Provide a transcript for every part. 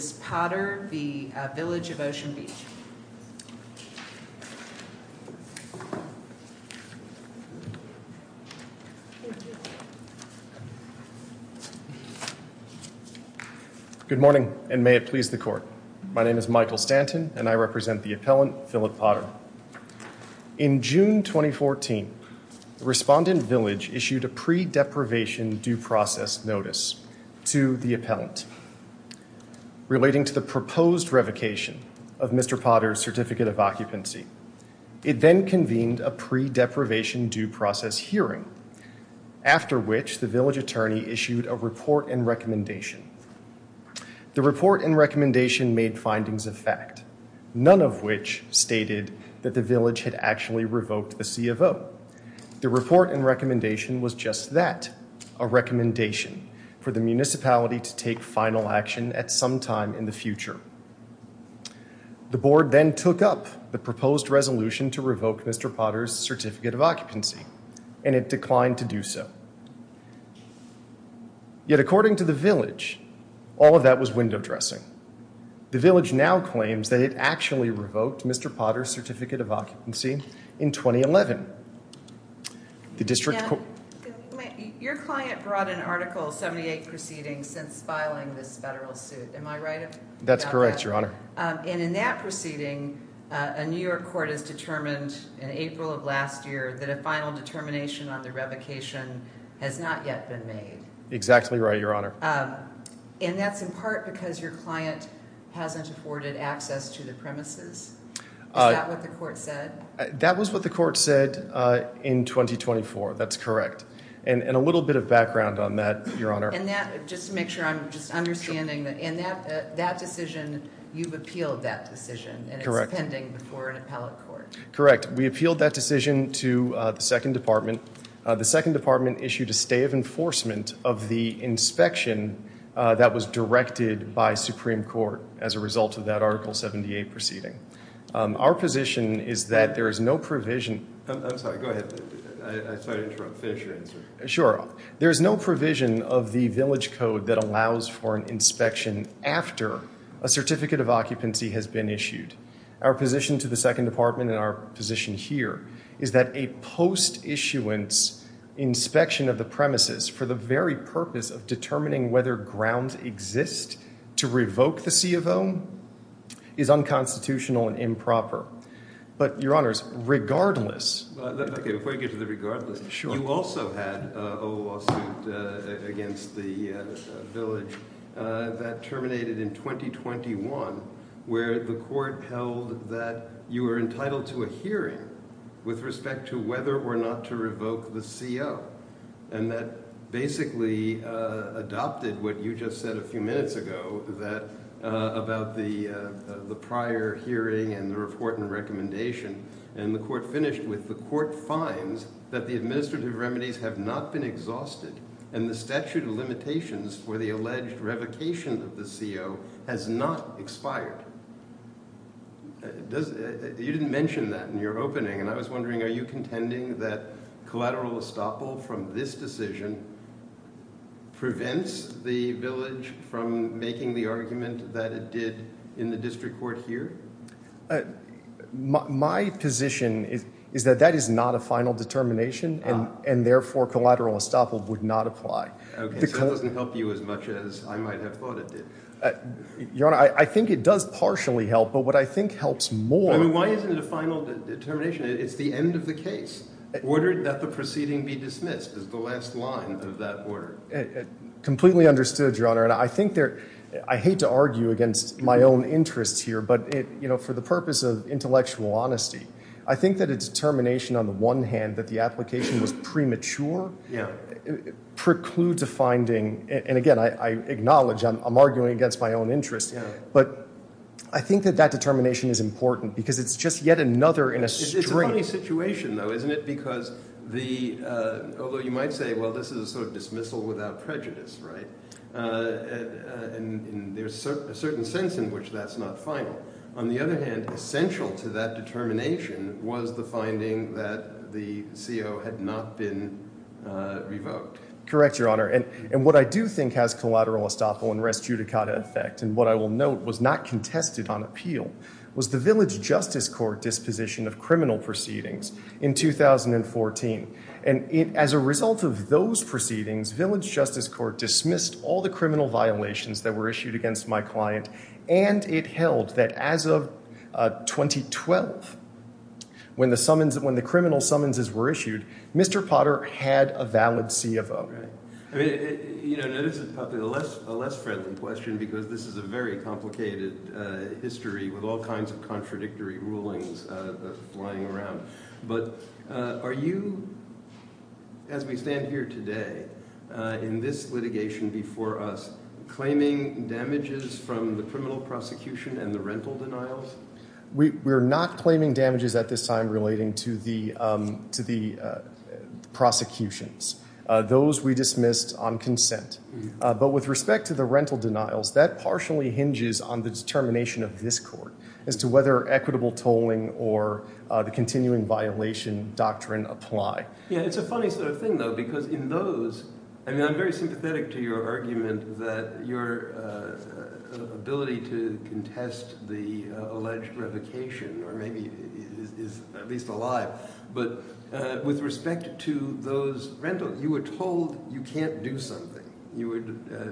Good morning and may it please the court. My name is Michael Stanton and I represent the appellant Philip Potter. In June 2014, the respondent village issued a pre-deprivation due process notice to the appellant. Relating to the proposed revocation of Mr. Potter's certificate of occupancy, it then convened a pre-deprivation due process hearing, after which the village attorney issued a report and recommendation. The report and recommendation made findings of fact, none of which stated that the village had actually revoked the CFO. The report and recommendation was just that, a recommendation for the municipality to take final action at some time in the future. The board then took up the proposed resolution to revoke Mr. Potter's certificate of occupancy and it declined to do so. Yet according to the village, all of that was window dressing. The village now claims that it actually revoked Mr. Potter's certificate of occupancy in 2011. Your client brought an article 78 proceeding since filing this federal suit, am I right? That's correct, your honor. And in that proceeding, a New York court has determined in April of last year that a final determination on the revocation has not yet been made. Exactly right, your honor. And that's in part because your client hasn't afforded access to the premises? Is that what the court said? That was what the court said in 2024, that's correct. And a little bit of background on that, your honor. And that, just to make sure I'm just understanding that in that decision, you've appealed that decision and it's pending before an appellate court. Correct, we appealed that decision to the second department. The second department issued a stay of enforcement of the inspection that was directed by Supreme Court as a result of that article 78 proceeding. Our position is that there is no provision... I'm sorry, go ahead. I'm sorry to interrupt. Finish your answer. Sure. There is no provision of the village code that allows for an inspection after a certificate of occupancy has been issued. Our position to the second department and our position here is that a post-issuance inspection of the premises for the very purpose of determining whether grounds exist to revoke the C of O is unconstitutional and improper. But your honors, regardless... Okay, before you get to the regardless, you also had a lawsuit against the village that terminated in 2021, where the court held that you were entitled to a hearing with respect to whether or not to revoke the C.O. And that basically adopted what you just said a few minutes ago about the prior hearing and the report and recommendation. And the court finished with, the court finds that the administrative remedies have not been exhausted and the statute of limitations for the alleged revocation of the C.O. has not expired. You didn't mention that in your opening and I was wondering, are you contending that collateral estoppel from this decision prevents the village from making the argument that it did in the district court here? My position is that that is not a final determination and therefore collateral estoppel would not apply. Okay, so it doesn't help you as much as I might have thought it did. Your honor, I think it does partially help, but what I think helps more... I mean, why isn't it a final determination? It's the end of the case. Ordered that the proceeding be dismissed is the last line of that order. Completely understood, your honor. And I think there, I hate to argue against my own interests here, but for the purpose of intellectual honesty, I think that a determination on the one hand that the application was premature, precludes a finding, and again, I acknowledge I'm arguing against my own interests, but I think that that determination is important because it's just yet another in a strange situation though, isn't it? Because the, although you might say, well, this is a sort of dismissal without prejudice, right? And there's a certain sense in which that's not final. On the other hand, essential to that determination was the finding that the CO had not been revoked. Correct, your honor. And what I do think has collateral estoppel and res judicata effect, and what I will note was not contested on appeal, was the village justice court disposition of criminal proceedings in 2014. And as a result of those proceedings, village justice court dismissed all the criminal violations that were issued against my client, and it held that as of 2012, when the criminal summonses were issued, Mr. Potter had a valid CFO. Okay. I mean, you know, this is probably a less friendly question because this is a very complicated history with all kinds of contradictory rulings flying around, but are you, as we stand here today, in this litigation before us, claiming damages from the criminal prosecution and the rental denials? We're not claiming damages at this time relating to the prosecutions. Those we dismissed on consent. But with respect to the rental denials, that partially hinges on the determination of this court as to whether equitable tolling or the continuing violation doctrine apply. Yeah, it's a funny sort of thing, though, because in those, I mean, I'm very sympathetic to your argument that your ability to contest the alleged revocation or maybe is at least alive, but with respect to those rentals, you were told you can't do something. You were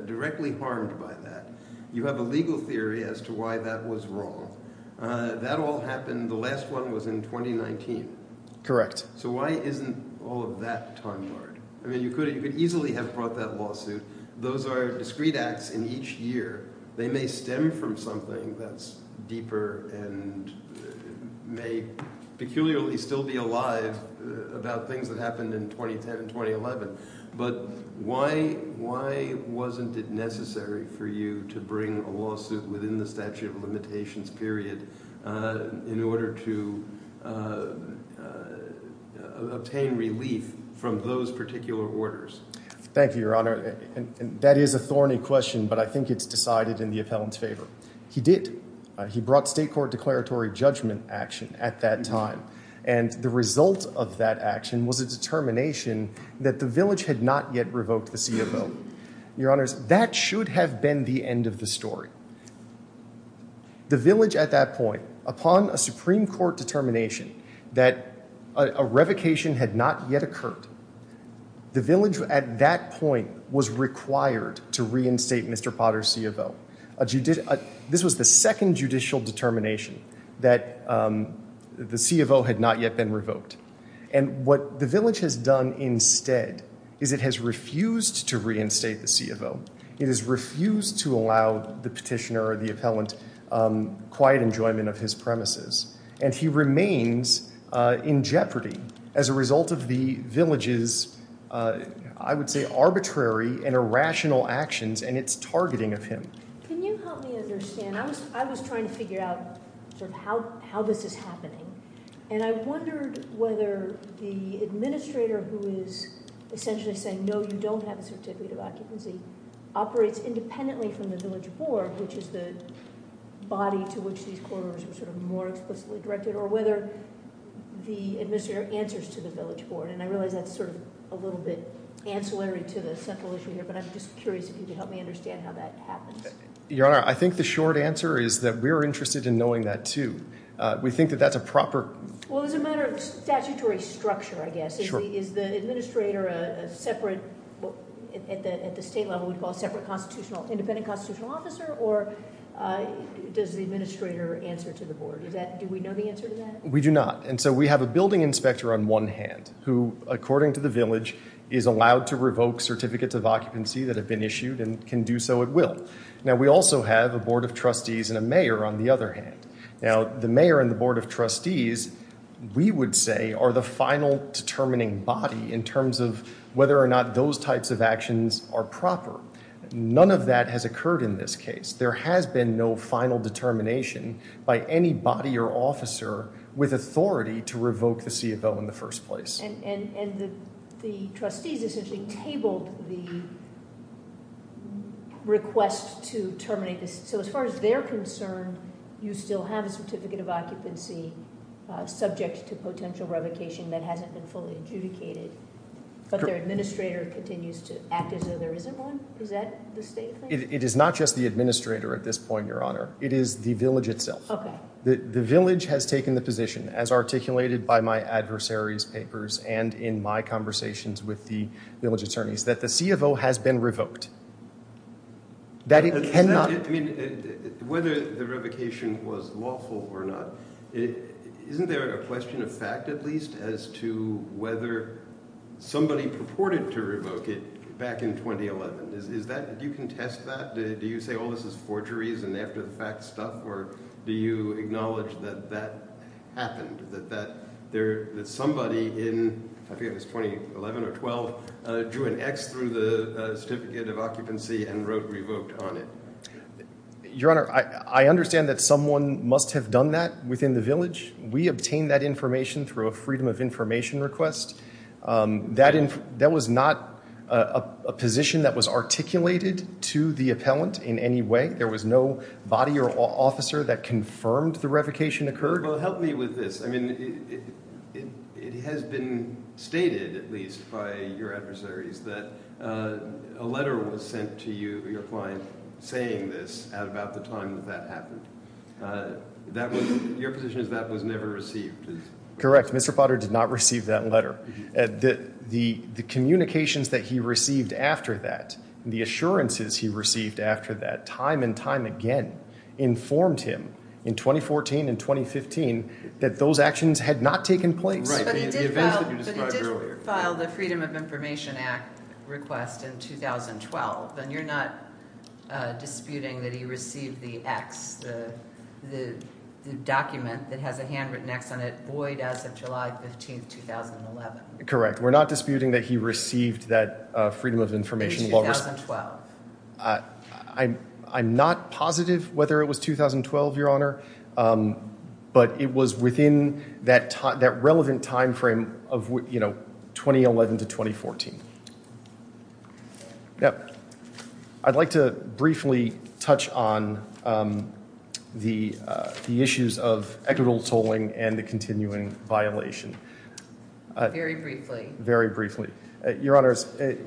directly harmed by that. You have a legal theory as to why that was wrong. That all happened, the last one was in 2019. Correct. So why isn't all of that time hard? I mean, you could easily have brought that lawsuit. Those are discrete acts in each year. They may stem from something that's deeper and may peculiarly still be alive about things that happened in 2010 and 2011. But why wasn't it necessary for you to bring a lawsuit within the statute of limitations period in order to obtain relief from those particular orders? Thank you, Your Honor. That is a thorny question, but I think it's decided in the appellant's favor. He did. He brought state court declaratory judgment action at that time. And the result of that action was a determination that the village had not yet revoked the CFO. Your Honor, that should have been the end of the story. The village at that point, upon a Supreme Court determination that a revocation had not yet occurred, the village at that point was required to reinstate Mr. Potter's CFO. This was the second judicial determination that the CFO had not yet been revoked. And what the village has done instead is it has refused to reinstate the CFO. It has refused to allow the petitioner or the appellant quiet enjoyment of his premises. And he remains in jeopardy as a result of the village's, I would say, arbitrary and irrational actions and its targeting of him. Can you help me understand? I was trying to figure out sort of how this is happening. And I wondered whether the administrator who is essentially saying, no, you don't have a certificate of occupancy, operates independently from the village board, which is the body to which these corridors were sort of more explicitly directed, or whether the administrator answers to the village board. And I realize that's sort of a little bit ancillary to the central issue here, but I'm just curious if you could help me understand how that happens. Your Honor, I think the short answer is that we're interested in knowing that too. We think that that's a proper... Well, as a matter of statutory structure, I guess, is the administrator a separate, at the state level, we'd call a separate constitutional, independent constitutional officer, or does the administrator answer to the board? Do we know the answer to that? We do not. And so we have a building inspector on one hand, who, according to the village, is allowed to revoke certificates of occupancy that have been issued and can do so at will. Now, we also have a board of trustees and a mayor on the other hand. Now, the mayor and the board of trustees, we would say, are the final determining body in terms of whether or not those types of actions are proper. None of that has occurred in this case. There has been no final determination by any body or officer with authority to revoke the CFO in the first place. And the trustees essentially tabled the request to terminate this. So as far as they're concerned, you still have a certificate of occupancy subject to potential revocation that hasn't been fully adjudicated, but their administrator continues to act as though there isn't one? Is that the state thing? It is not just the administrator at this point, Your Honor. It is the village itself. The village has taken the position, as articulated by my adversaries' papers and in my conversations with the village attorneys, that the CFO has been revoked. Whether the revocation was lawful or not, isn't there a question of fact, at least, as to whether somebody purported to revoke it back in 2011? Do you contest that? Do you say, this is forgeries and after-the-fact stuff? Or do you acknowledge that that happened, that somebody in 2011 or 2012 drew an X through the certificate of occupancy and wrote revoked on it? Your Honor, I understand that someone must have done that within the village. We obtained that information through a freedom of information request. That was not a position that was no body or officer that confirmed the revocation occurred? Well, help me with this. It has been stated, at least by your adversaries, that a letter was sent to you, your client, saying this at about the time that that happened. Your position is that was never received? Correct. Mr. Potter did not receive that letter. The communications that he received after that, the assurances he received after that, time and time again, informed him in 2014 and 2015 that those actions had not taken place. Right. But he did file the Freedom of Information Act request in 2012, and you're not disputing that he received the X, the document that has a handwritten X on it, void as of July 15, 2011? Correct. We're not disputing that he received that freedom of information. In 2012? I'm not positive whether it was 2012, your Honor, but it was within that relevant time frame of, you know, 2011 to 2014. I'd like to briefly touch on the issues of equitable tolling and the continuing violation. Very briefly. Very briefly. Your Honors,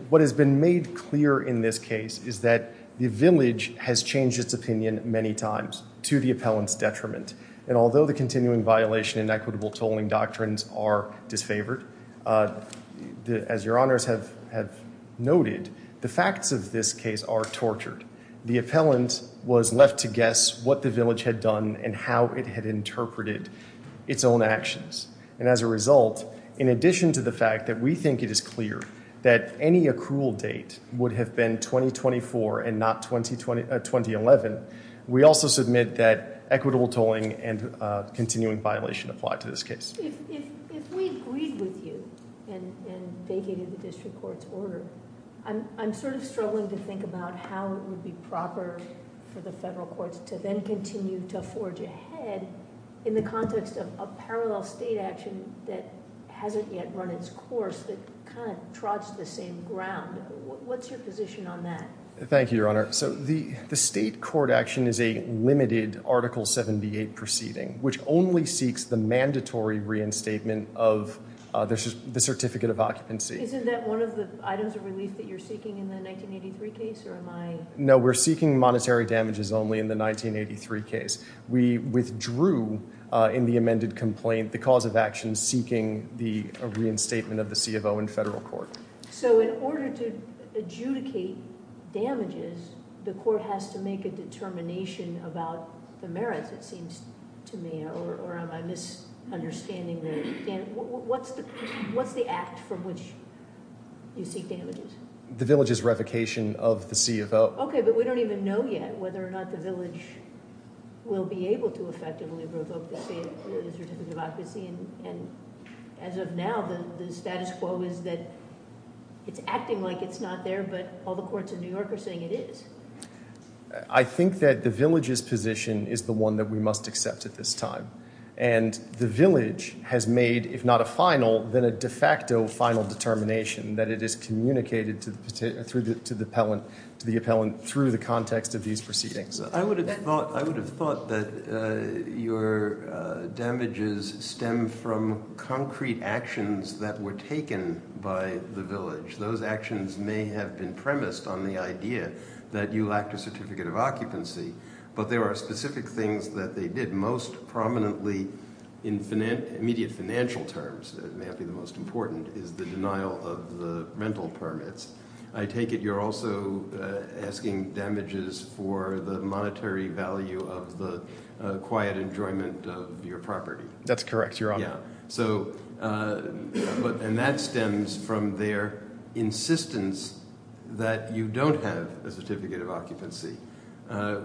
what has been made clear in this case is that the village has changed its opinion many times to the appellant's detriment. And although the continuing violation and equitable tolling doctrines are disfavored, as your Honors have noted, the facts of this case are tortured. The appellant was left to guess what the village had done and how it had interpreted its own actions. And as a result, in addition to the fact that we think it is clear that any accrual date would have been 2024 and not 2011, we also submit that equitable tolling and continuing violation apply to this case. If we agreed with you and vacated the district court's order, I'm sort of struggling to think about how it would be proper for the federal courts to then continue to forge ahead in the context of a parallel state action that hasn't yet run its course, that kind of trots the same ground. What's your position on that? Thank you, your Honor. So the state court action is a limited Article 78 proceeding, which only seeks the mandatory reinstatement of the certificate of occupancy. Isn't that one of the items of relief that you're seeking in the 1983 case, or am I... No, we're seeking monetary damages only in the 1983 case. We withdrew in the amended complaint the cause of action seeking the reinstatement of the CFO in federal court. So in order to adjudicate damages, the court has to make a determination about the merits, it seems to me, or am I misunderstanding? What's the act from which you seek damages? The village's revocation of the CFO. Okay, but we don't even know yet whether or not the village will be able to effectively revoke the certificate of occupancy. And as of now, the status quo is that it's acting like it's not there, but all the courts in New York are saying it is. I think that the village's position is the one that we must accept at this time. And the village has made, if not a final, then a de facto final determination that it is communicated to the appellant through the context of these proceedings. I would have thought that your damages stem from concrete actions that were taken by the village. Those actions may have been premised on the idea that you lacked a certificate of occupancy, but there are specific things that they did. Most prominently in immediate financial terms, it may not be the most important, is the denial of the rental permits. I take it you're also asking damages for the monetary value of the quiet enjoyment of your property. That's correct, Your Honor. Yeah. And that stems from their insistence that you don't have a certificate of occupancy,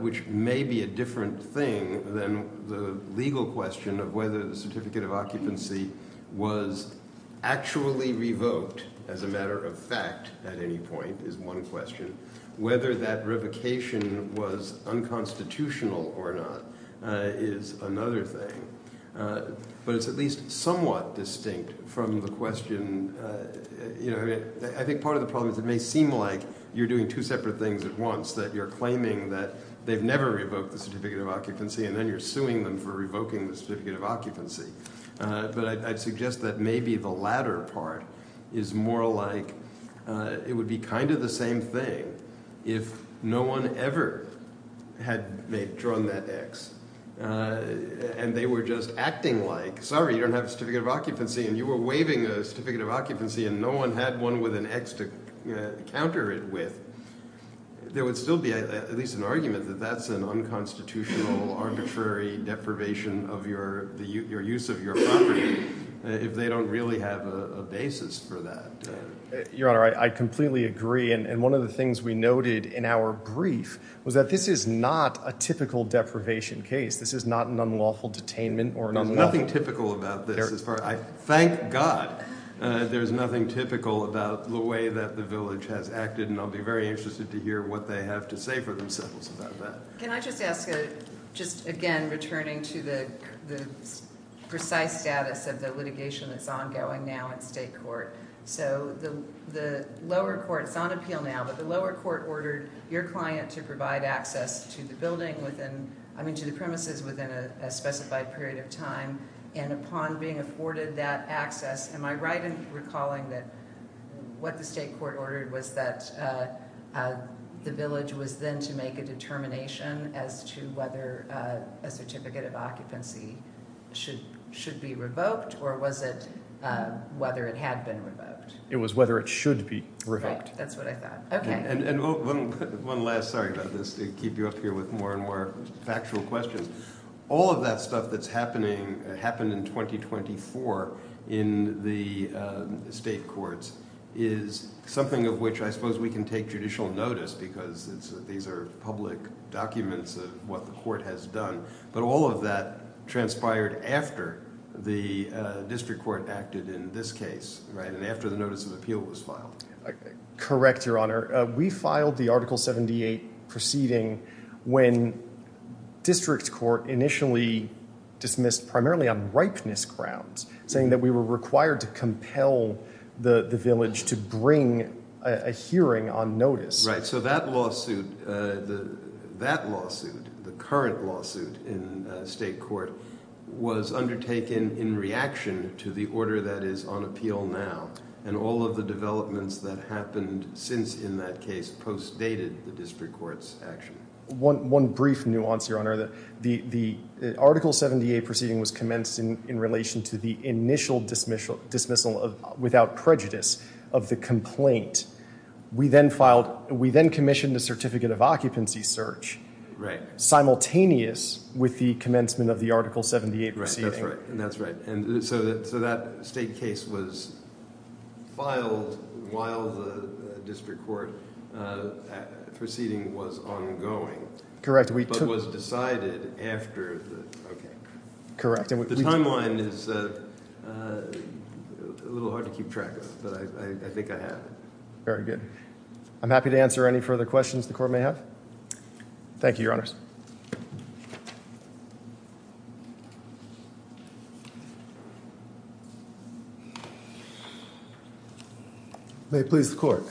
which may be a different thing than the legal question of whether the certificate of occupancy was actually revoked as a matter of fact at any point, is one question. Whether that revocation was unconstitutional or not is another thing. But it's at least somewhat distinct from the question. I think part of the problem is it may seem like you're doing two separate things at once, that you're claiming that they've never revoked the certificate of occupancy, and then you're suing them for revoking the certificate of occupancy. But I'd suggest that maybe the latter part is more like it would be kind of the same thing if no one ever had drawn that X, and they were just acting like, sorry, you don't have a certificate of occupancy, and you were waiving a certificate of occupancy, and no one had one with an X to counter it with. There would still be at least an argument that that's an unconstitutional, arbitrary deprivation of your use of your property if they don't really have a basis for that. Your Honor, I completely agree. And one of the things we noted in our brief was that this is not a typical deprivation case. This is not an unlawful detainment or an unlawful- There's nothing typical about this. Thank God there's nothing typical about the way that the college has acted, and I'll be very interested to hear what they have to say for themselves about that. Can I just ask, just again, returning to the precise status of the litigation that's ongoing now in state court. So the lower court, it's on appeal now, but the lower court ordered your client to provide access to the building within, I mean to the premises within a specified period of time, and upon being afforded that access, am I right in recalling that what the state court ordered was that the village was then to make a determination as to whether a certificate of occupancy should be revoked, or was it whether it had been revoked? It was whether it should be revoked. Right, that's what I thought. Okay. And one last, sorry about this, to keep you up here with more and more factual questions. All of that stuff that's happening, happened in 2024 in the state courts, is something of which I suppose we can take judicial notice because these are public documents of what the court has done, but all of that transpired after the district court acted in this case, right, and after the notice of appeal was filed. Correct, your honor. We filed the article 78 proceeding when district court initially dismissed primarily on ripeness grounds, saying that we were required to compel the village to bring a hearing on notice. Right, so that lawsuit, that lawsuit, the current lawsuit in state court, was undertaken in reaction to the order that is on appeal now, and all of the developments that happened since in that case postdated the district court's action. One brief nuance, your honor, the article 78 proceeding was commenced in relation to the initial dismissal without prejudice of the complaint. We then filed, we then commissioned a certificate of occupancy search simultaneous with the commencement of the article 78 proceeding. Right, that's right, and that's right, and so that state case was filed while the district court proceeding was ongoing. Correct. But was decided after the... Correct. The timeline is a little hard to keep track of, but I think I have it. Very good. I'm happy to answer any further questions the court may have. Thank you, your honors. May it please the court.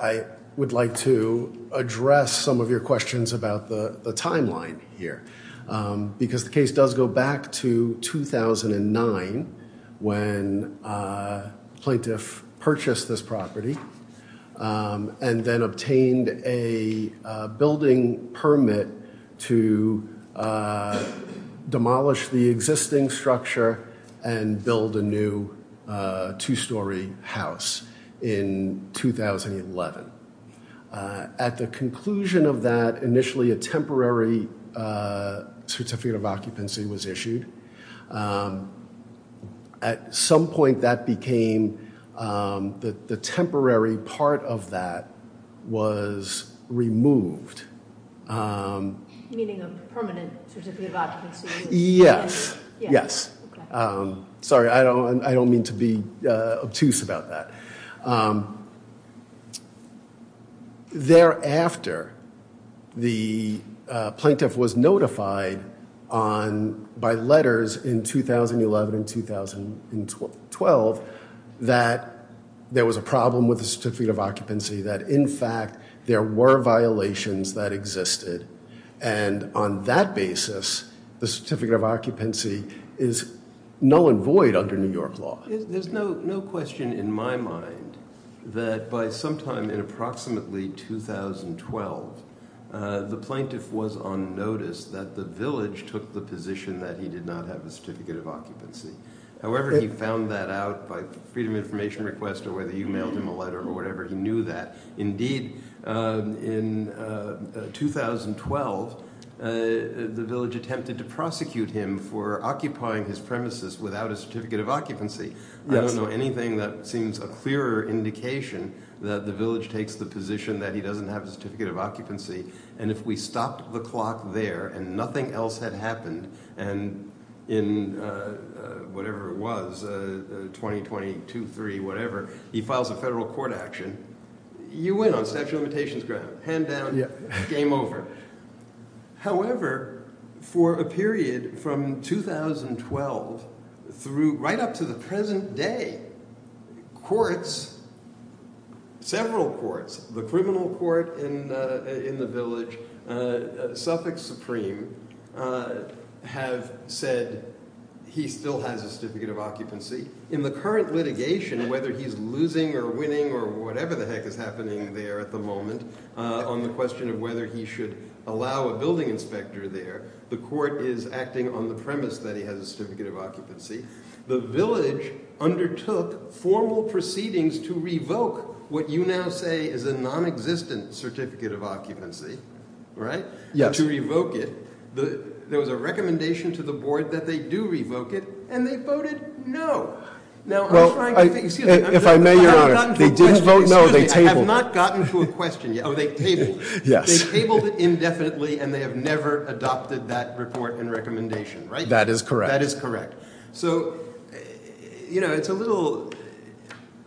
I would like to address some of your questions about the timeline here, because the case does go back to 2009 when plaintiff purchased this property and then obtained a building permit to demolish the existing structure and build a new two-story house in 2011. At the conclusion of that, initially a temporary certificate of occupancy was issued. At some point that became, the temporary part of that was removed. Meaning a permanent certificate of occupancy? Yes, yes. Sorry, I don't mean to be obtuse about that. Thereafter, the plaintiff was notified by letters in 2011 and 2012 that there was a problem with the certificate of occupancy, that in fact there were violations that existed, and on that basis the certificate of occupancy is null and void under New York law. There's no question in my mind that by sometime in approximately 2012, the plaintiff was on notice that the village took the position that he did not have a certificate of occupancy. However, he found that out by freedom information request or whether you mailed him a letter or whatever, he knew that. Indeed, in 2012 the village attempted to prosecute him for occupying his premises without a certificate of occupancy. I don't know anything that seems a clearer indication that the village takes the position that he doesn't have a certificate of occupancy, and if we stopped the clock there and nothing else had happened, and in whatever it was, 2020, two, three, whatever, he files a federal court action, you win on statute of limitations ground. Hand down, game over. However, for a period from 2012 through right up to the present day, courts, several courts, the criminal court in in the village, Suffolk Supreme, have said he still has a certificate of occupancy. In the current litigation, whether he's losing or winning or whatever the heck is happening there at the on the premise that he has a certificate of occupancy, the village undertook formal proceedings to revoke what you now say is a non-existent certificate of occupancy, right? Yes. To revoke it, there was a recommendation to the board that they do revoke it, and they voted no. Now, if I may, your honor, they didn't vote no, they tabled. I have not gotten to a question yet. Oh, they tabled it indefinitely and they have never adopted that report and recommendation, right? That is correct. That is correct. So, you know, it's a little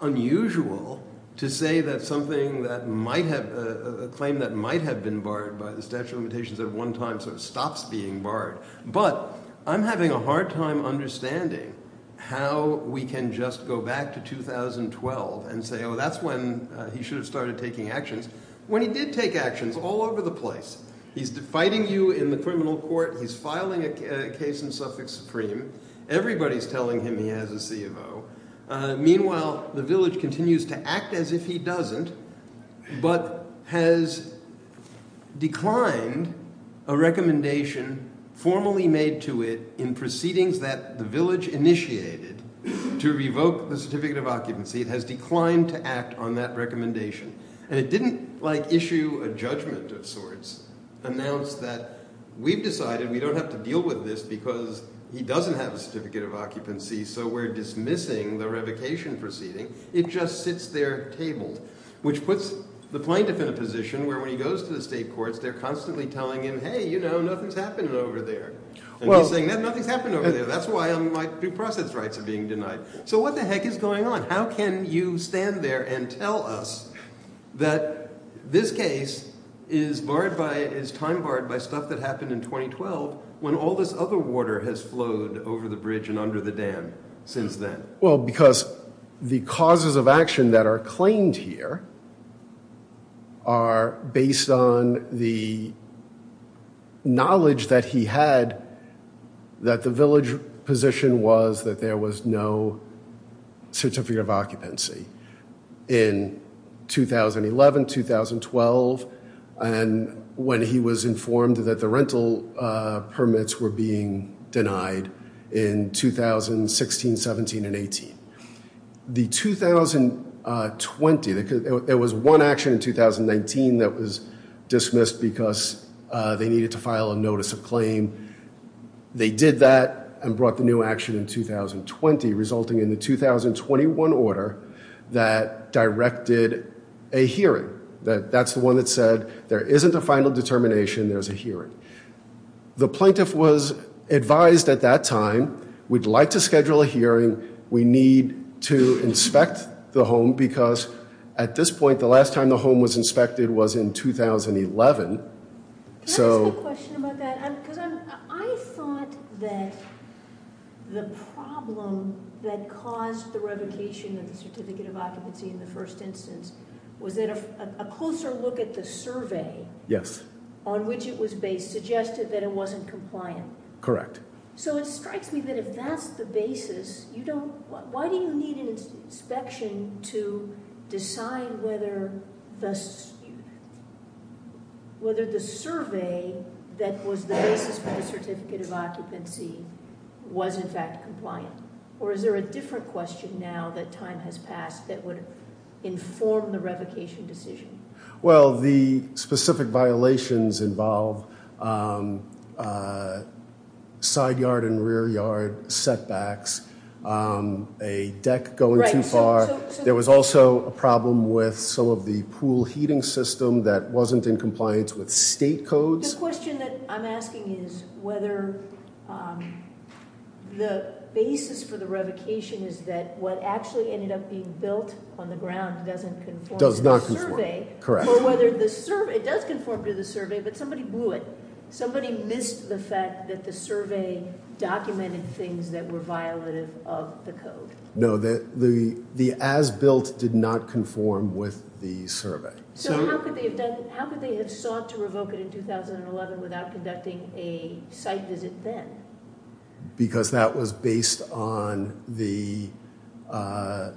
unusual to say that something that might have, a claim that might have been barred by the statute of limitations at one time sort of stops being barred, but I'm having a hard time understanding how we can just go back to 2012 and say, oh, that's when he should have started taking actions when he did take actions all over the place. He's fighting you in the criminal court. He's filing a case in suffix supreme. Everybody's telling him he has a C of O. Meanwhile, the village continues to act as if he doesn't, but has declined a recommendation formally made to it in proceedings that the village initiated to revoke the certificate of occupancy. It has declined to act on that recommendation, and it didn't like issue a judgment of sorts, announced that we've decided we don't have to deal with this because he doesn't have a certificate of occupancy, so we're dismissing the revocation proceeding. It just sits there tabled, which puts the plaintiff in a position where when he goes to the state courts, they're constantly telling him, hey, you know, nothing's happening over there, and he's saying that nothing's happened over there. That's why I'm processing rights are being denied. So what the heck is going on? How can you stand there and tell us that this case is time barred by stuff that happened in 2012 when all this other water has flowed over the bridge and under the dam since then? Well, because the causes of action that are claimed here are based on the knowledge that he had that the village position was that there was no certificate of occupancy in 2011, 2012, and when he was informed that the rental was 2020, there was one action in 2019 that was dismissed because they needed to file a notice of claim. They did that and brought the new action in 2020, resulting in the 2021 order that directed a hearing. That's the one that said there isn't a final determination, there's a hearing. The plaintiff was advised at that time, we'd like to schedule a hearing, we need to inspect the home because at this point, the last time the home was inspected was in 2011. Can I ask a question about that? Because I thought that the problem that caused the revocation of the certificate of occupancy in the first instance was that a closer look at the survey on which it was based suggested that it wasn't compliant. Correct. So it strikes me that if that's the basis, why do you need an inspection to decide whether the survey that was the basis for the certificate of occupancy was in fact compliant? Or is there a different question now that time has passed that would inform the revocation decision? Well, the specific violations involve side yard and rear yard setbacks, a deck going too far. There was also a problem with some of the pool heating system that wasn't in compliance with state codes. The question that I'm asking is whether the basis for the revocation is that what actually ended up being built on the ground doesn't conform to the survey. Correct. It does conform to the survey, but somebody blew it. Somebody missed the fact that the survey documented things that were violative of the code. No, the as-built did not conform with the survey. So how could they have sought to revoke it in 2011 without conducting a site visit then? Because that was based on the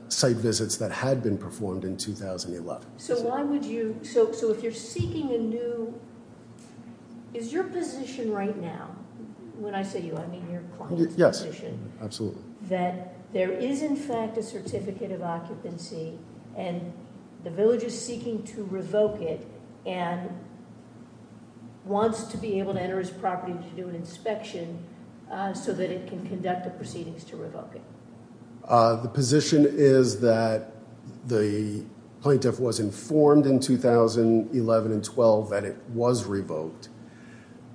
site visits that had been performed in 2011. So why would you, so if you're seeking a new, is your position right now, when I say you, I mean your client's position. Yes, absolutely. That there is in fact a certificate of occupancy and the village is seeking to revoke it and wants to be able to enter his property to do an inspection so that it can conduct the proceedings to revoke it. The position is that the plaintiff was informed in 2011 and 12 that it was revoked,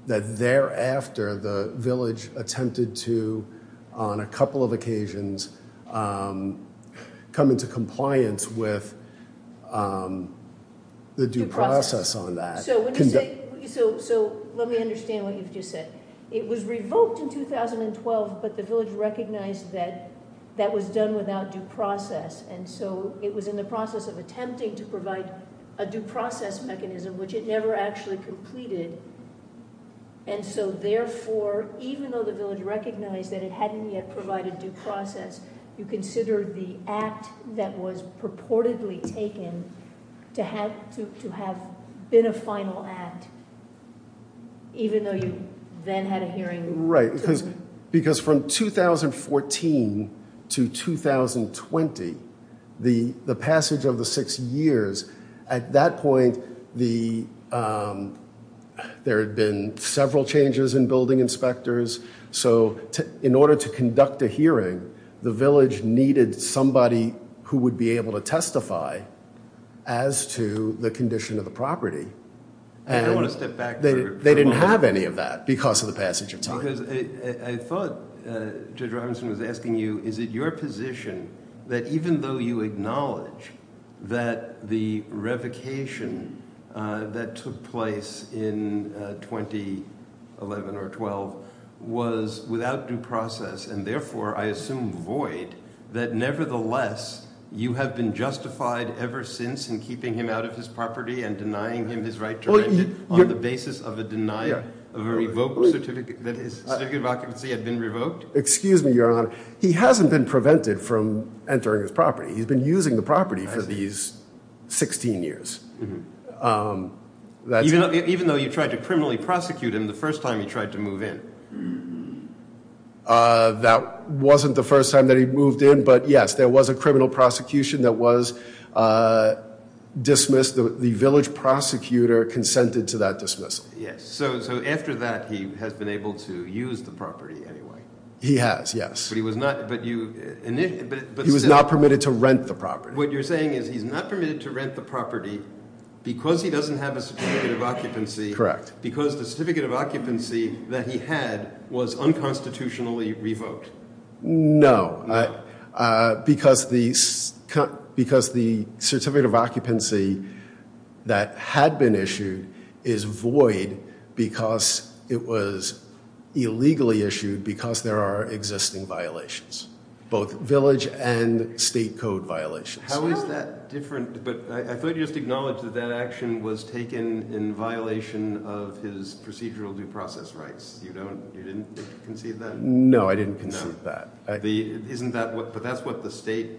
that thereafter the village attempted to, on a couple of occasions, come into compliance with the due process on that. So let me understand what you've just said. It was revoked in 2012, but the village recognized that that was done without due process and so it was in the process of attempting to provide a due process mechanism, which it never actually completed. And so therefore, even though the village recognized that it hadn't yet provided due process, you consider the act that was purportedly taken to have been a final act, even though you then had a hearing? Right, because from 2014 to 2020, the passage of the six years, at that point there had been several changes in building inspectors. So in order to conduct a hearing, the village needed somebody who would be able to justify as to the condition of the property. And I want to step back. They didn't have any of that because of the passage of time. Because I thought Judge Robinson was asking you, is it your position that even though you acknowledge that the revocation that took place in 2011 or 12 was without due process and therefore, I assume, void, that nevertheless, you have been justified ever since in keeping him out of his property and denying him his right to rent it on the basis of a denial of a revoked certificate that his certificate of occupancy had been revoked? Excuse me, Your Honor. He hasn't been prevented from entering his property. He's been using the property for these 16 years. Even though you tried to criminally prosecute him the first time he tried to move in. That wasn't the first time that he moved in. But yes, there was a criminal prosecution that was dismissed. The village prosecutor consented to that dismissal. Yes. So after that, he has been able to use the property anyway. He has, yes. But he was not, but you He was not permitted to rent the property. What you're saying is he's not permitted to rent the because he doesn't have a certificate of occupancy. Correct. Because the certificate of occupancy that he had was unconstitutionally revoked. No. Because the certificate of occupancy that had been issued is void because it was illegally issued because there are existing violations. Both village and state code violations. How is that different? But I thought you just acknowledged that that action was taken in violation of his procedural due process rights. You don't, you didn't concede that? No, I didn't concede that. Isn't that what, but that's what the state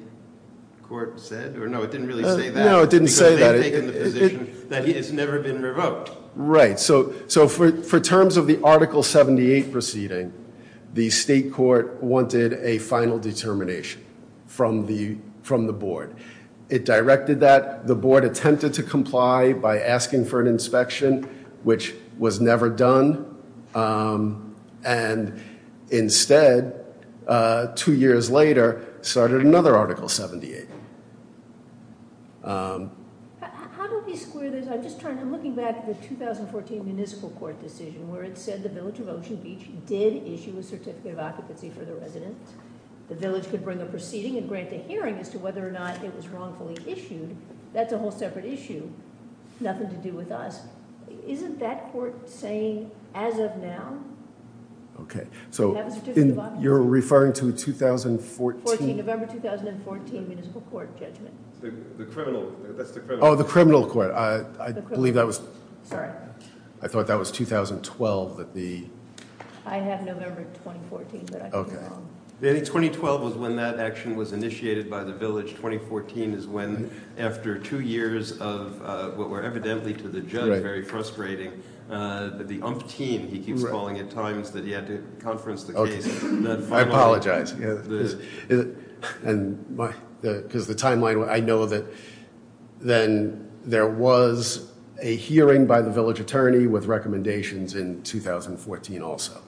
court said? Or no, it didn't really say that. No, it didn't say that. That it's never been revoked. Right. So for terms of the Article 78 proceeding, the state court wanted a final determination from the, from the board. It directed that the board attempted to comply by asking for an inspection, which was never done. And instead, two years later, started another Article 78. How do we square this? I'm just trying, I'm looking back at the 2014 municipal court decision where it said the village of Ocean Beach did issue a certificate of occupancy for the resident. The village could bring a proceeding and grant a hearing as to whether or not it was wrongfully issued. That's a whole separate issue. Nothing to do with us. Isn't that court saying as of now? Okay, so you're referring to 2014? November 2014 municipal court judgment. The criminal, that's the criminal. Oh, the criminal court. I believe that was, sorry, I thought that was 2012 that the. I have November 2014. Okay. 2012 was when that action was initiated by the village. 2014 is when after two years of what were evidently to the judge very frustrating, the umpteen, he keeps calling it times that he had to conference the case. I apologize. And because the timeline, I know that then there was a hearing by the village attorney with recommendations in 2014 also.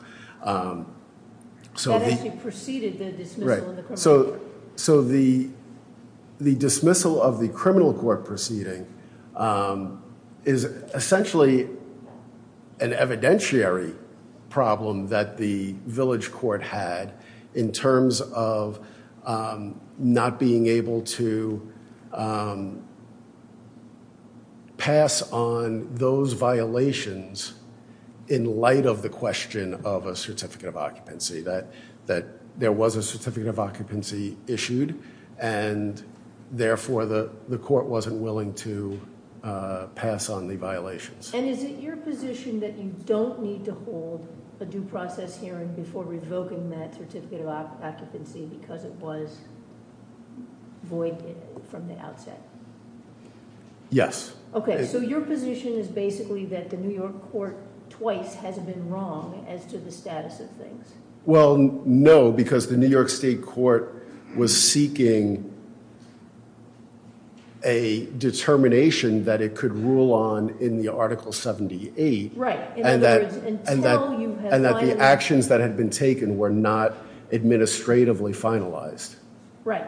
So that actually preceded the dismissal. So the dismissal of the criminal court proceeding is essentially an evidentiary problem that the village court had in terms of not being able to pass on those violations in light of the question of a certificate of occupancy. That there was a certificate of occupancy issued and therefore the court wasn't willing to pass on the violations. And is it your position that you don't need to hold a due process hearing before revoking that certificate of occupancy because it was void from the outset? Yes. Okay. So your position is basically that the New York court twice hasn't been wrong as to the status of things. Well, no, because the New York state court was seeking a determination that it could rule on in the article 78. Right. And that the actions that had been taken were not administratively finalized. Right.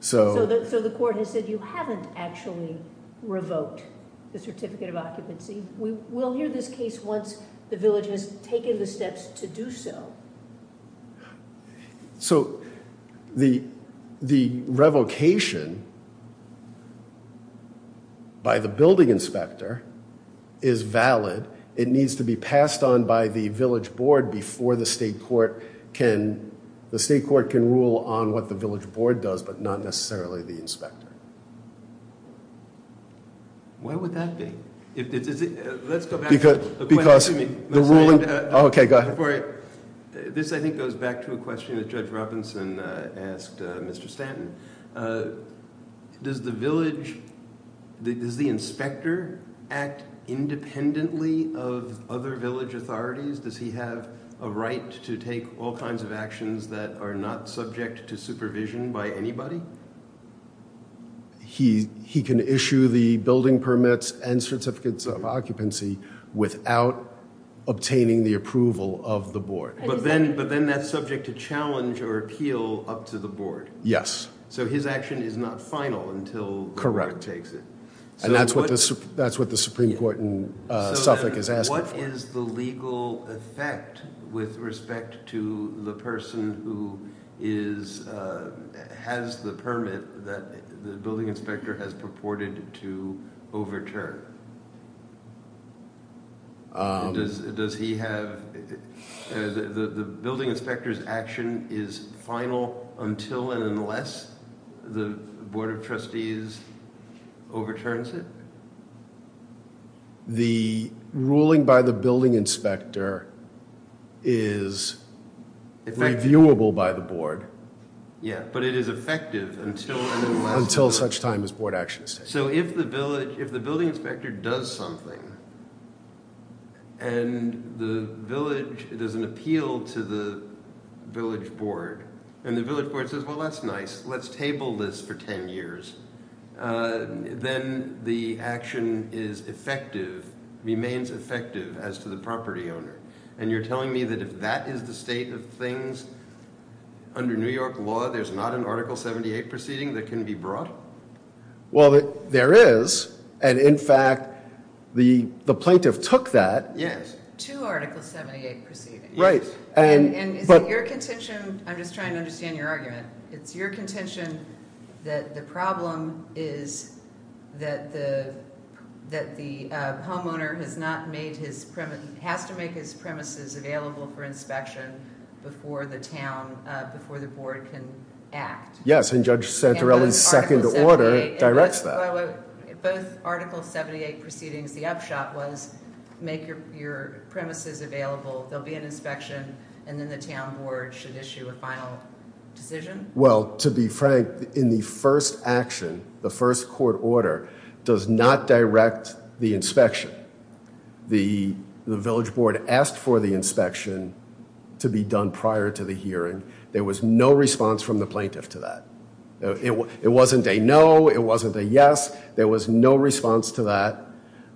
So the court has said you haven't actually revoked the certificate of occupancy. We will hear this case once the village has taken the steps to do so. So the revocation by the building inspector is valid. It needs to be passed on by the village board before the state court can rule on what the village board does, but not necessarily the inspector. Why would that be? This I think goes back to a question that Judge Robinson asked Mr. Stanton. Does the village, does the inspector act independently of other village authorities? Does he have a right to take all kinds of actions that are not subject to supervision by anybody? No. He can issue the building permits and certificates of occupancy without obtaining the approval of the board. But then that's subject to challenge or appeal up to the board. Yes. So his action is not final until the board takes it. Correct. And that's what the Supreme Court in Suffolk has asked. What is the legal effect with respect to the person who is, has the permit that the building inspector has purported to overturn? Does he have, the building inspector's action is final until and unless the board of trustees overturns it? The ruling by the building inspector is reviewable by the board. Yeah, but it is effective until such time as board action is taken. So if the village, if the building inspector does something and the village, there's an appeal to the village board and the village board says, well that's nice, let's table this for 10 years. Then the action is effective, remains effective as to the property owner. And you're telling me that if that is the state of things under New York law, there's not an article 78 proceeding that can be brought? Well there is and in fact the plaintiff took that. Yes, to article 78 proceeding. Right. And is it your contention, I'm just trying to understand your argument, it's your contention that the problem is that the homeowner has not made his premise, has to make his premises available for inspection before the town, before the board can act? Yes, and Judge Santorelli's second order directs that. Both article 78 proceedings, the upshot was make your premises available, there'll be an inspection and then the town board should issue a final decision? Well to be frank, in the first action, the first court order does not direct the inspection. The village board asked for the inspection to be done prior to the hearing, there was no response from the plaintiff to that. It wasn't a no, it wasn't a yes, there was no response to that.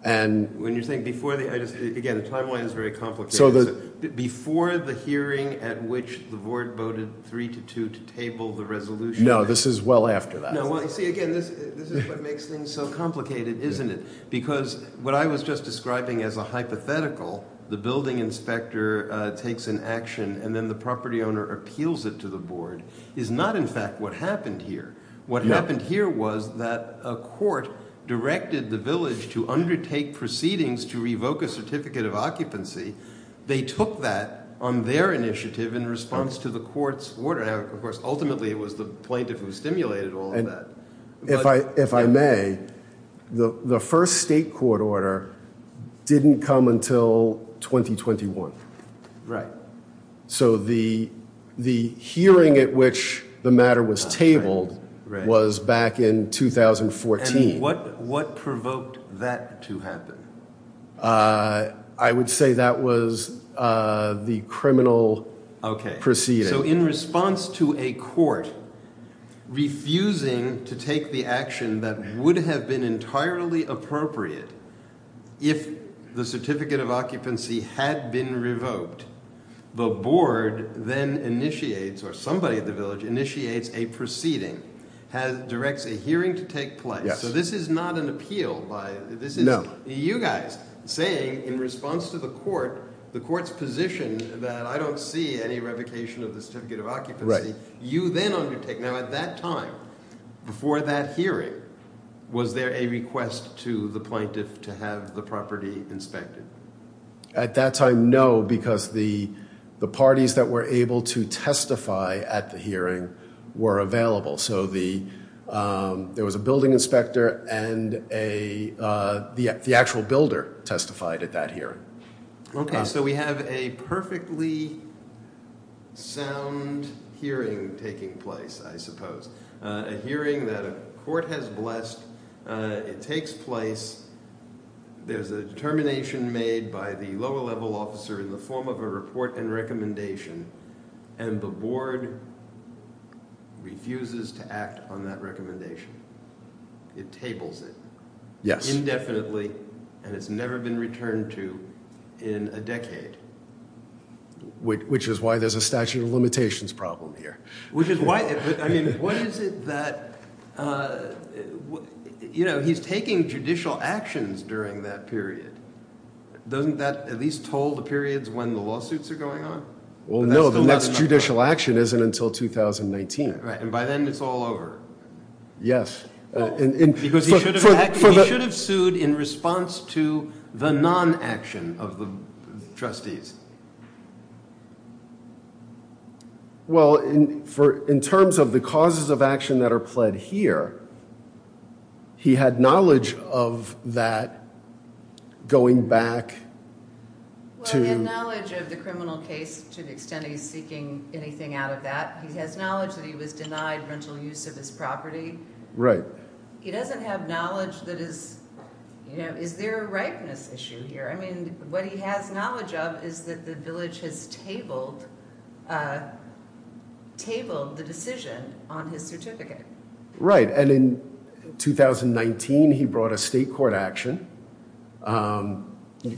And when you're saying before the, again the timeline is very complicated, before the hearing at which the board voted three to two to table the resolution? No, this is well after that. See again, this is what makes things so complicated, isn't it? Because what I was just describing as a hypothetical, the building inspector takes an action and then the property owner appeals it to the board, is not in fact what happened here. What happened here was that a court directed the village to undertake proceedings to revoke a certificate of occupancy. They took that on their initiative in response to the court's order. Of course, ultimately it was the plaintiff who stimulated all of that. If I may, the first state court order didn't come until 2021. Right. So the hearing at which the matter was tabled was back in 2014. And what provoked that to happen? I would say that was the criminal proceeding. Okay, so in response to a court refusing to take the action that would have been entirely appropriate if the certificate of occupancy had been revoked, the board then initiates, or somebody at the village initiates a proceeding, directs a hearing to take place. So this is not an appeal by, this is you guys saying in response to the court, the court's position that I don't see any revocation of the certificate of occupancy, you then undertake. Now at that time, before that hearing, was there a request to the plaintiff to have the property inspected? At that time, no, because the parties that were able to testify at the hearing were available. So there was a building inspector and the actual builder testified at that hearing. Okay, so we have a perfectly sound hearing taking place, I suppose. A hearing that a court has blessed, it takes place, there's a determination made by the lower level officer in the form of a report and recommendation, and the board refuses to act on that recommendation. It tables it. Yes. Indefinitely, and it's never been returned to in a decade. Which is why there's a statute of limitations problem here. Which is why, I mean, what is it that, you know, he's taking judicial actions during that period. Doesn't that at least toll the periods when the lawsuits are going on? Well, no, the next judicial action isn't until 2019. Right, and by then it's all over. Yes. Because he should have sued in response to the non-action of the trustees. Well, in terms of the causes of action that are pled here, he had knowledge of that going back to... Well, he had knowledge of the criminal case to the extent he's seeking anything out of that. He has knowledge that he was denied rental use of his property. Right. He doesn't have knowledge that is, you know, is there a ripeness issue here? I mean, what he has knowledge of is that the village has tabled the decision on his certificate. Right, and in 2019 he brought a state court action.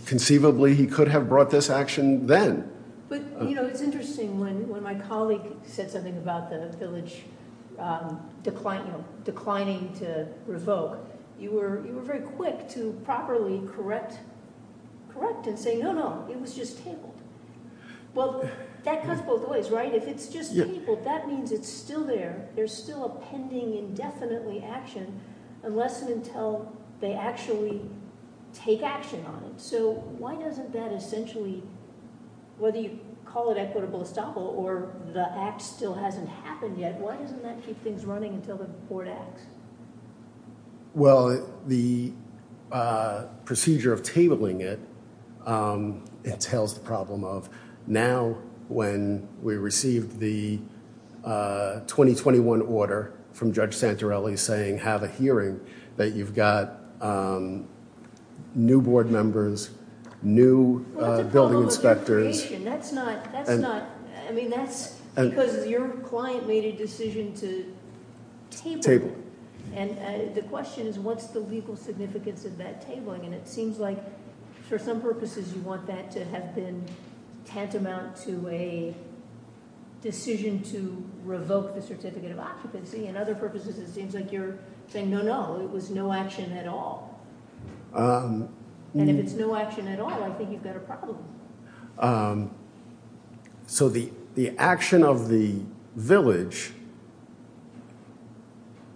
Conceivably, he could have brought this action then. But, you know, it's interesting when my colleague said something about the village declining to revoke. You were very quick to properly correct and say, no, no, it was just tabled. Well, that cuts both ways, right? If it's just tabled, that means it's still there. There's still a pending indefinitely action unless and until they actually take action on it. So why doesn't that essentially, whether you call it equitable estoppel or the act still hasn't happened yet, why doesn't that keep things running until the court acts? Well, the procedure of tabling it entails the problem of now when we received the 2021 order from Judge Santorelli saying have a hearing that you've got new board members, new building inspectors. That's not, I mean, that's because your client made a decision to table. And the question is what's the legal significance of that tabling? And it seems like for some purposes you want that to have been tantamount to a decision to revoke the certificate of occupancy. And other purposes it seems like you're saying, no, no, it was no action at all. And if it's no action at all, I think you've got a problem. So the action of the village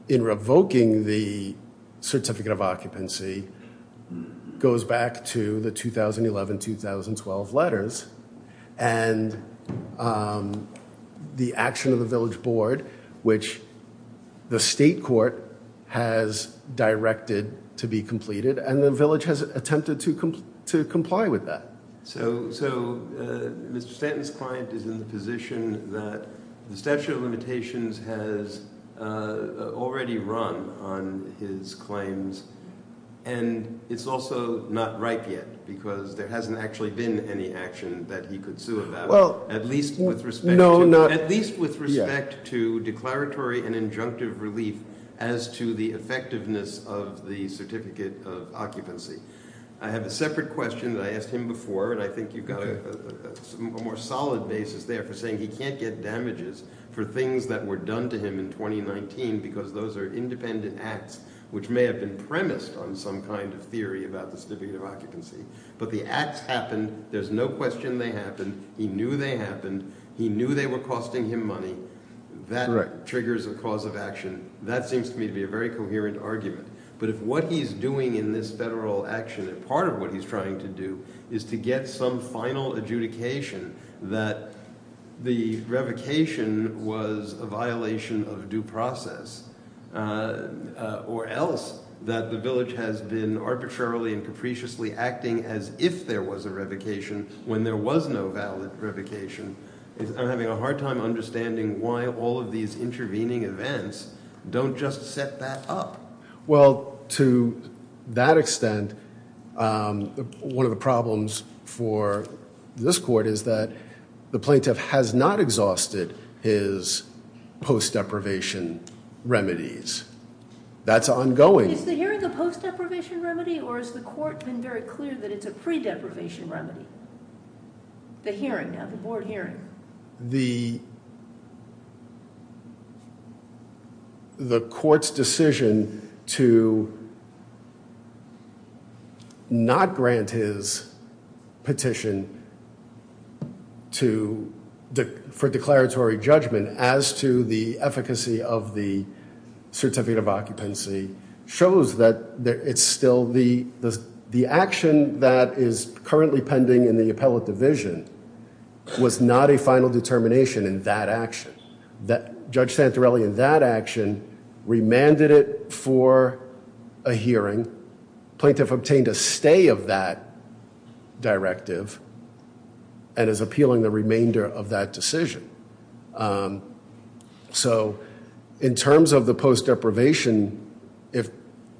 in revoking the certificate of occupancy goes back to the 2011-2012 letters. And the action of the village board, which the state court has directed to be completed, and the village has attempted to comply with that. So Mr. Stanton's client is in the position that the statute of limitations has already run on his claims. And it's also not ripe yet, because there hasn't actually been any action that he could sue about, at least with respect to declaratory and injunctive relief as to the effectiveness of the certificate of occupancy. I have a separate question that I asked him before, and I think you've got a more solid basis there for saying he can't get damages for things that were done to him in 2019, because those are independent acts which may have been premised on some kind of theory about the certificate of occupancy. But the acts happened. There's no question they happened. He knew they were costing him money. That triggers a cause of action. That seems to me to be a very coherent argument. But if what he's doing in this federal action, and part of what he's trying to do, is to get some final adjudication that the revocation was a violation of due process, or else that the village has been arbitrarily and capriciously acting as if there was a revocation when there was no valid revocation, I'm having a hard time understanding why all of these intervening events don't just set that up. Well, to that extent, one of the problems for this court is that the plaintiff has not exhausted his post-deprivation remedies. That's ongoing. Is the hearing a post-deprivation remedy, or has the court been very clear that it's a pre-deprivation remedy, the hearing, the board hearing? The court's decision to not grant his petition for declaratory judgment as to the efficacy of the certificate of occupancy shows that it's still the action that is currently pending in the appellate division was not a final determination in that action. Judge Santorelli, in that action, remanded it for a hearing. Plaintiff obtained a stay of that directive, and is appealing the remainder of that decision. So in terms of the post-deprivation, if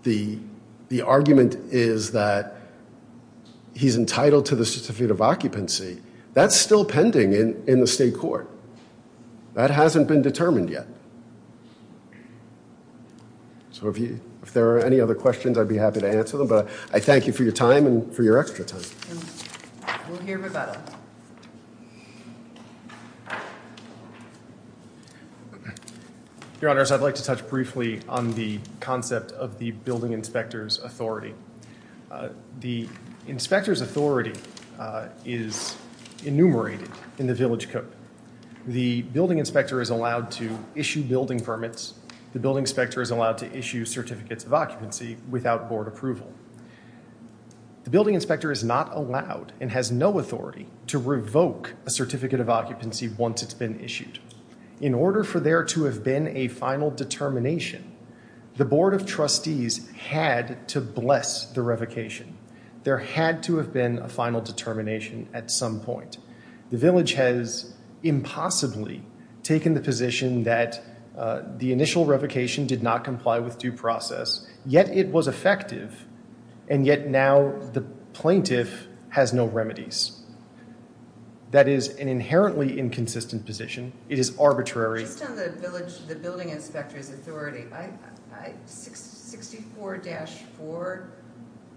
the argument is that he's entitled to the certificate of occupancy, that's still pending in the state court. That hasn't been determined yet. So if there are any other questions, I'd be happy to answer them. But I thank you for your time and for your extra time. We'll hear about it. Your honors, I'd like to touch briefly on the concept of the building inspector's authority. The inspector's authority is enumerated in the village code. The building inspector is allowed to issue building permits. The building inspector is allowed to issue certificates of occupancy without board approval. The building inspector is not allowed and has no authority to revoke a certificate of occupancy once it's been issued. In order for there to have been a final determination, the board of trustees had to bless the revocation. There had to have been a final determination at some point. The village has impossibly taken the position that the initial was effective, and yet now the plaintiff has no remedies. That is an inherently inconsistent position. It is arbitrary. Just on the village, the building inspector's authority, 64-4,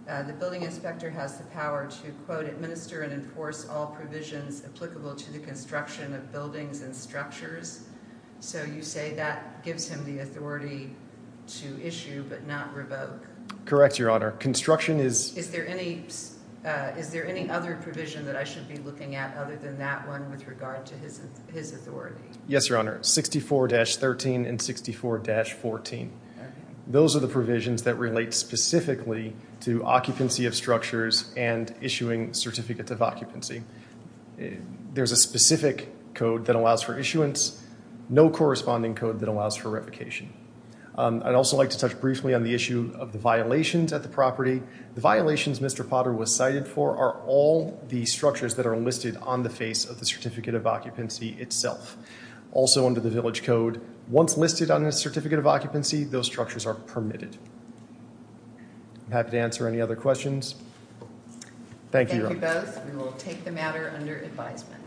the building inspector has the power to, quote, administer and enforce all provisions applicable to the construction of buildings and structures. So you say that gives him the to issue but not revoke? Correct, your honor. Is there any other provision that I should be looking at other than that one with regard to his authority? Yes, your honor. 64-13 and 64-14. Those are the provisions that relate specifically to occupancy of structures and issuing certificates of occupancy. There's a specific code that allows for issuance, no corresponding code that allows for revocation. I'd also like to touch briefly on the issue of the violations at the property. The violations Mr. Potter was cited for are all the structures that are listed on the face of the certificate of occupancy itself. Also under the village code, once listed on a certificate of occupancy, those structures are permitted. I'm happy to answer any other questions. Thank you, your honor. We will take the matter under advisement.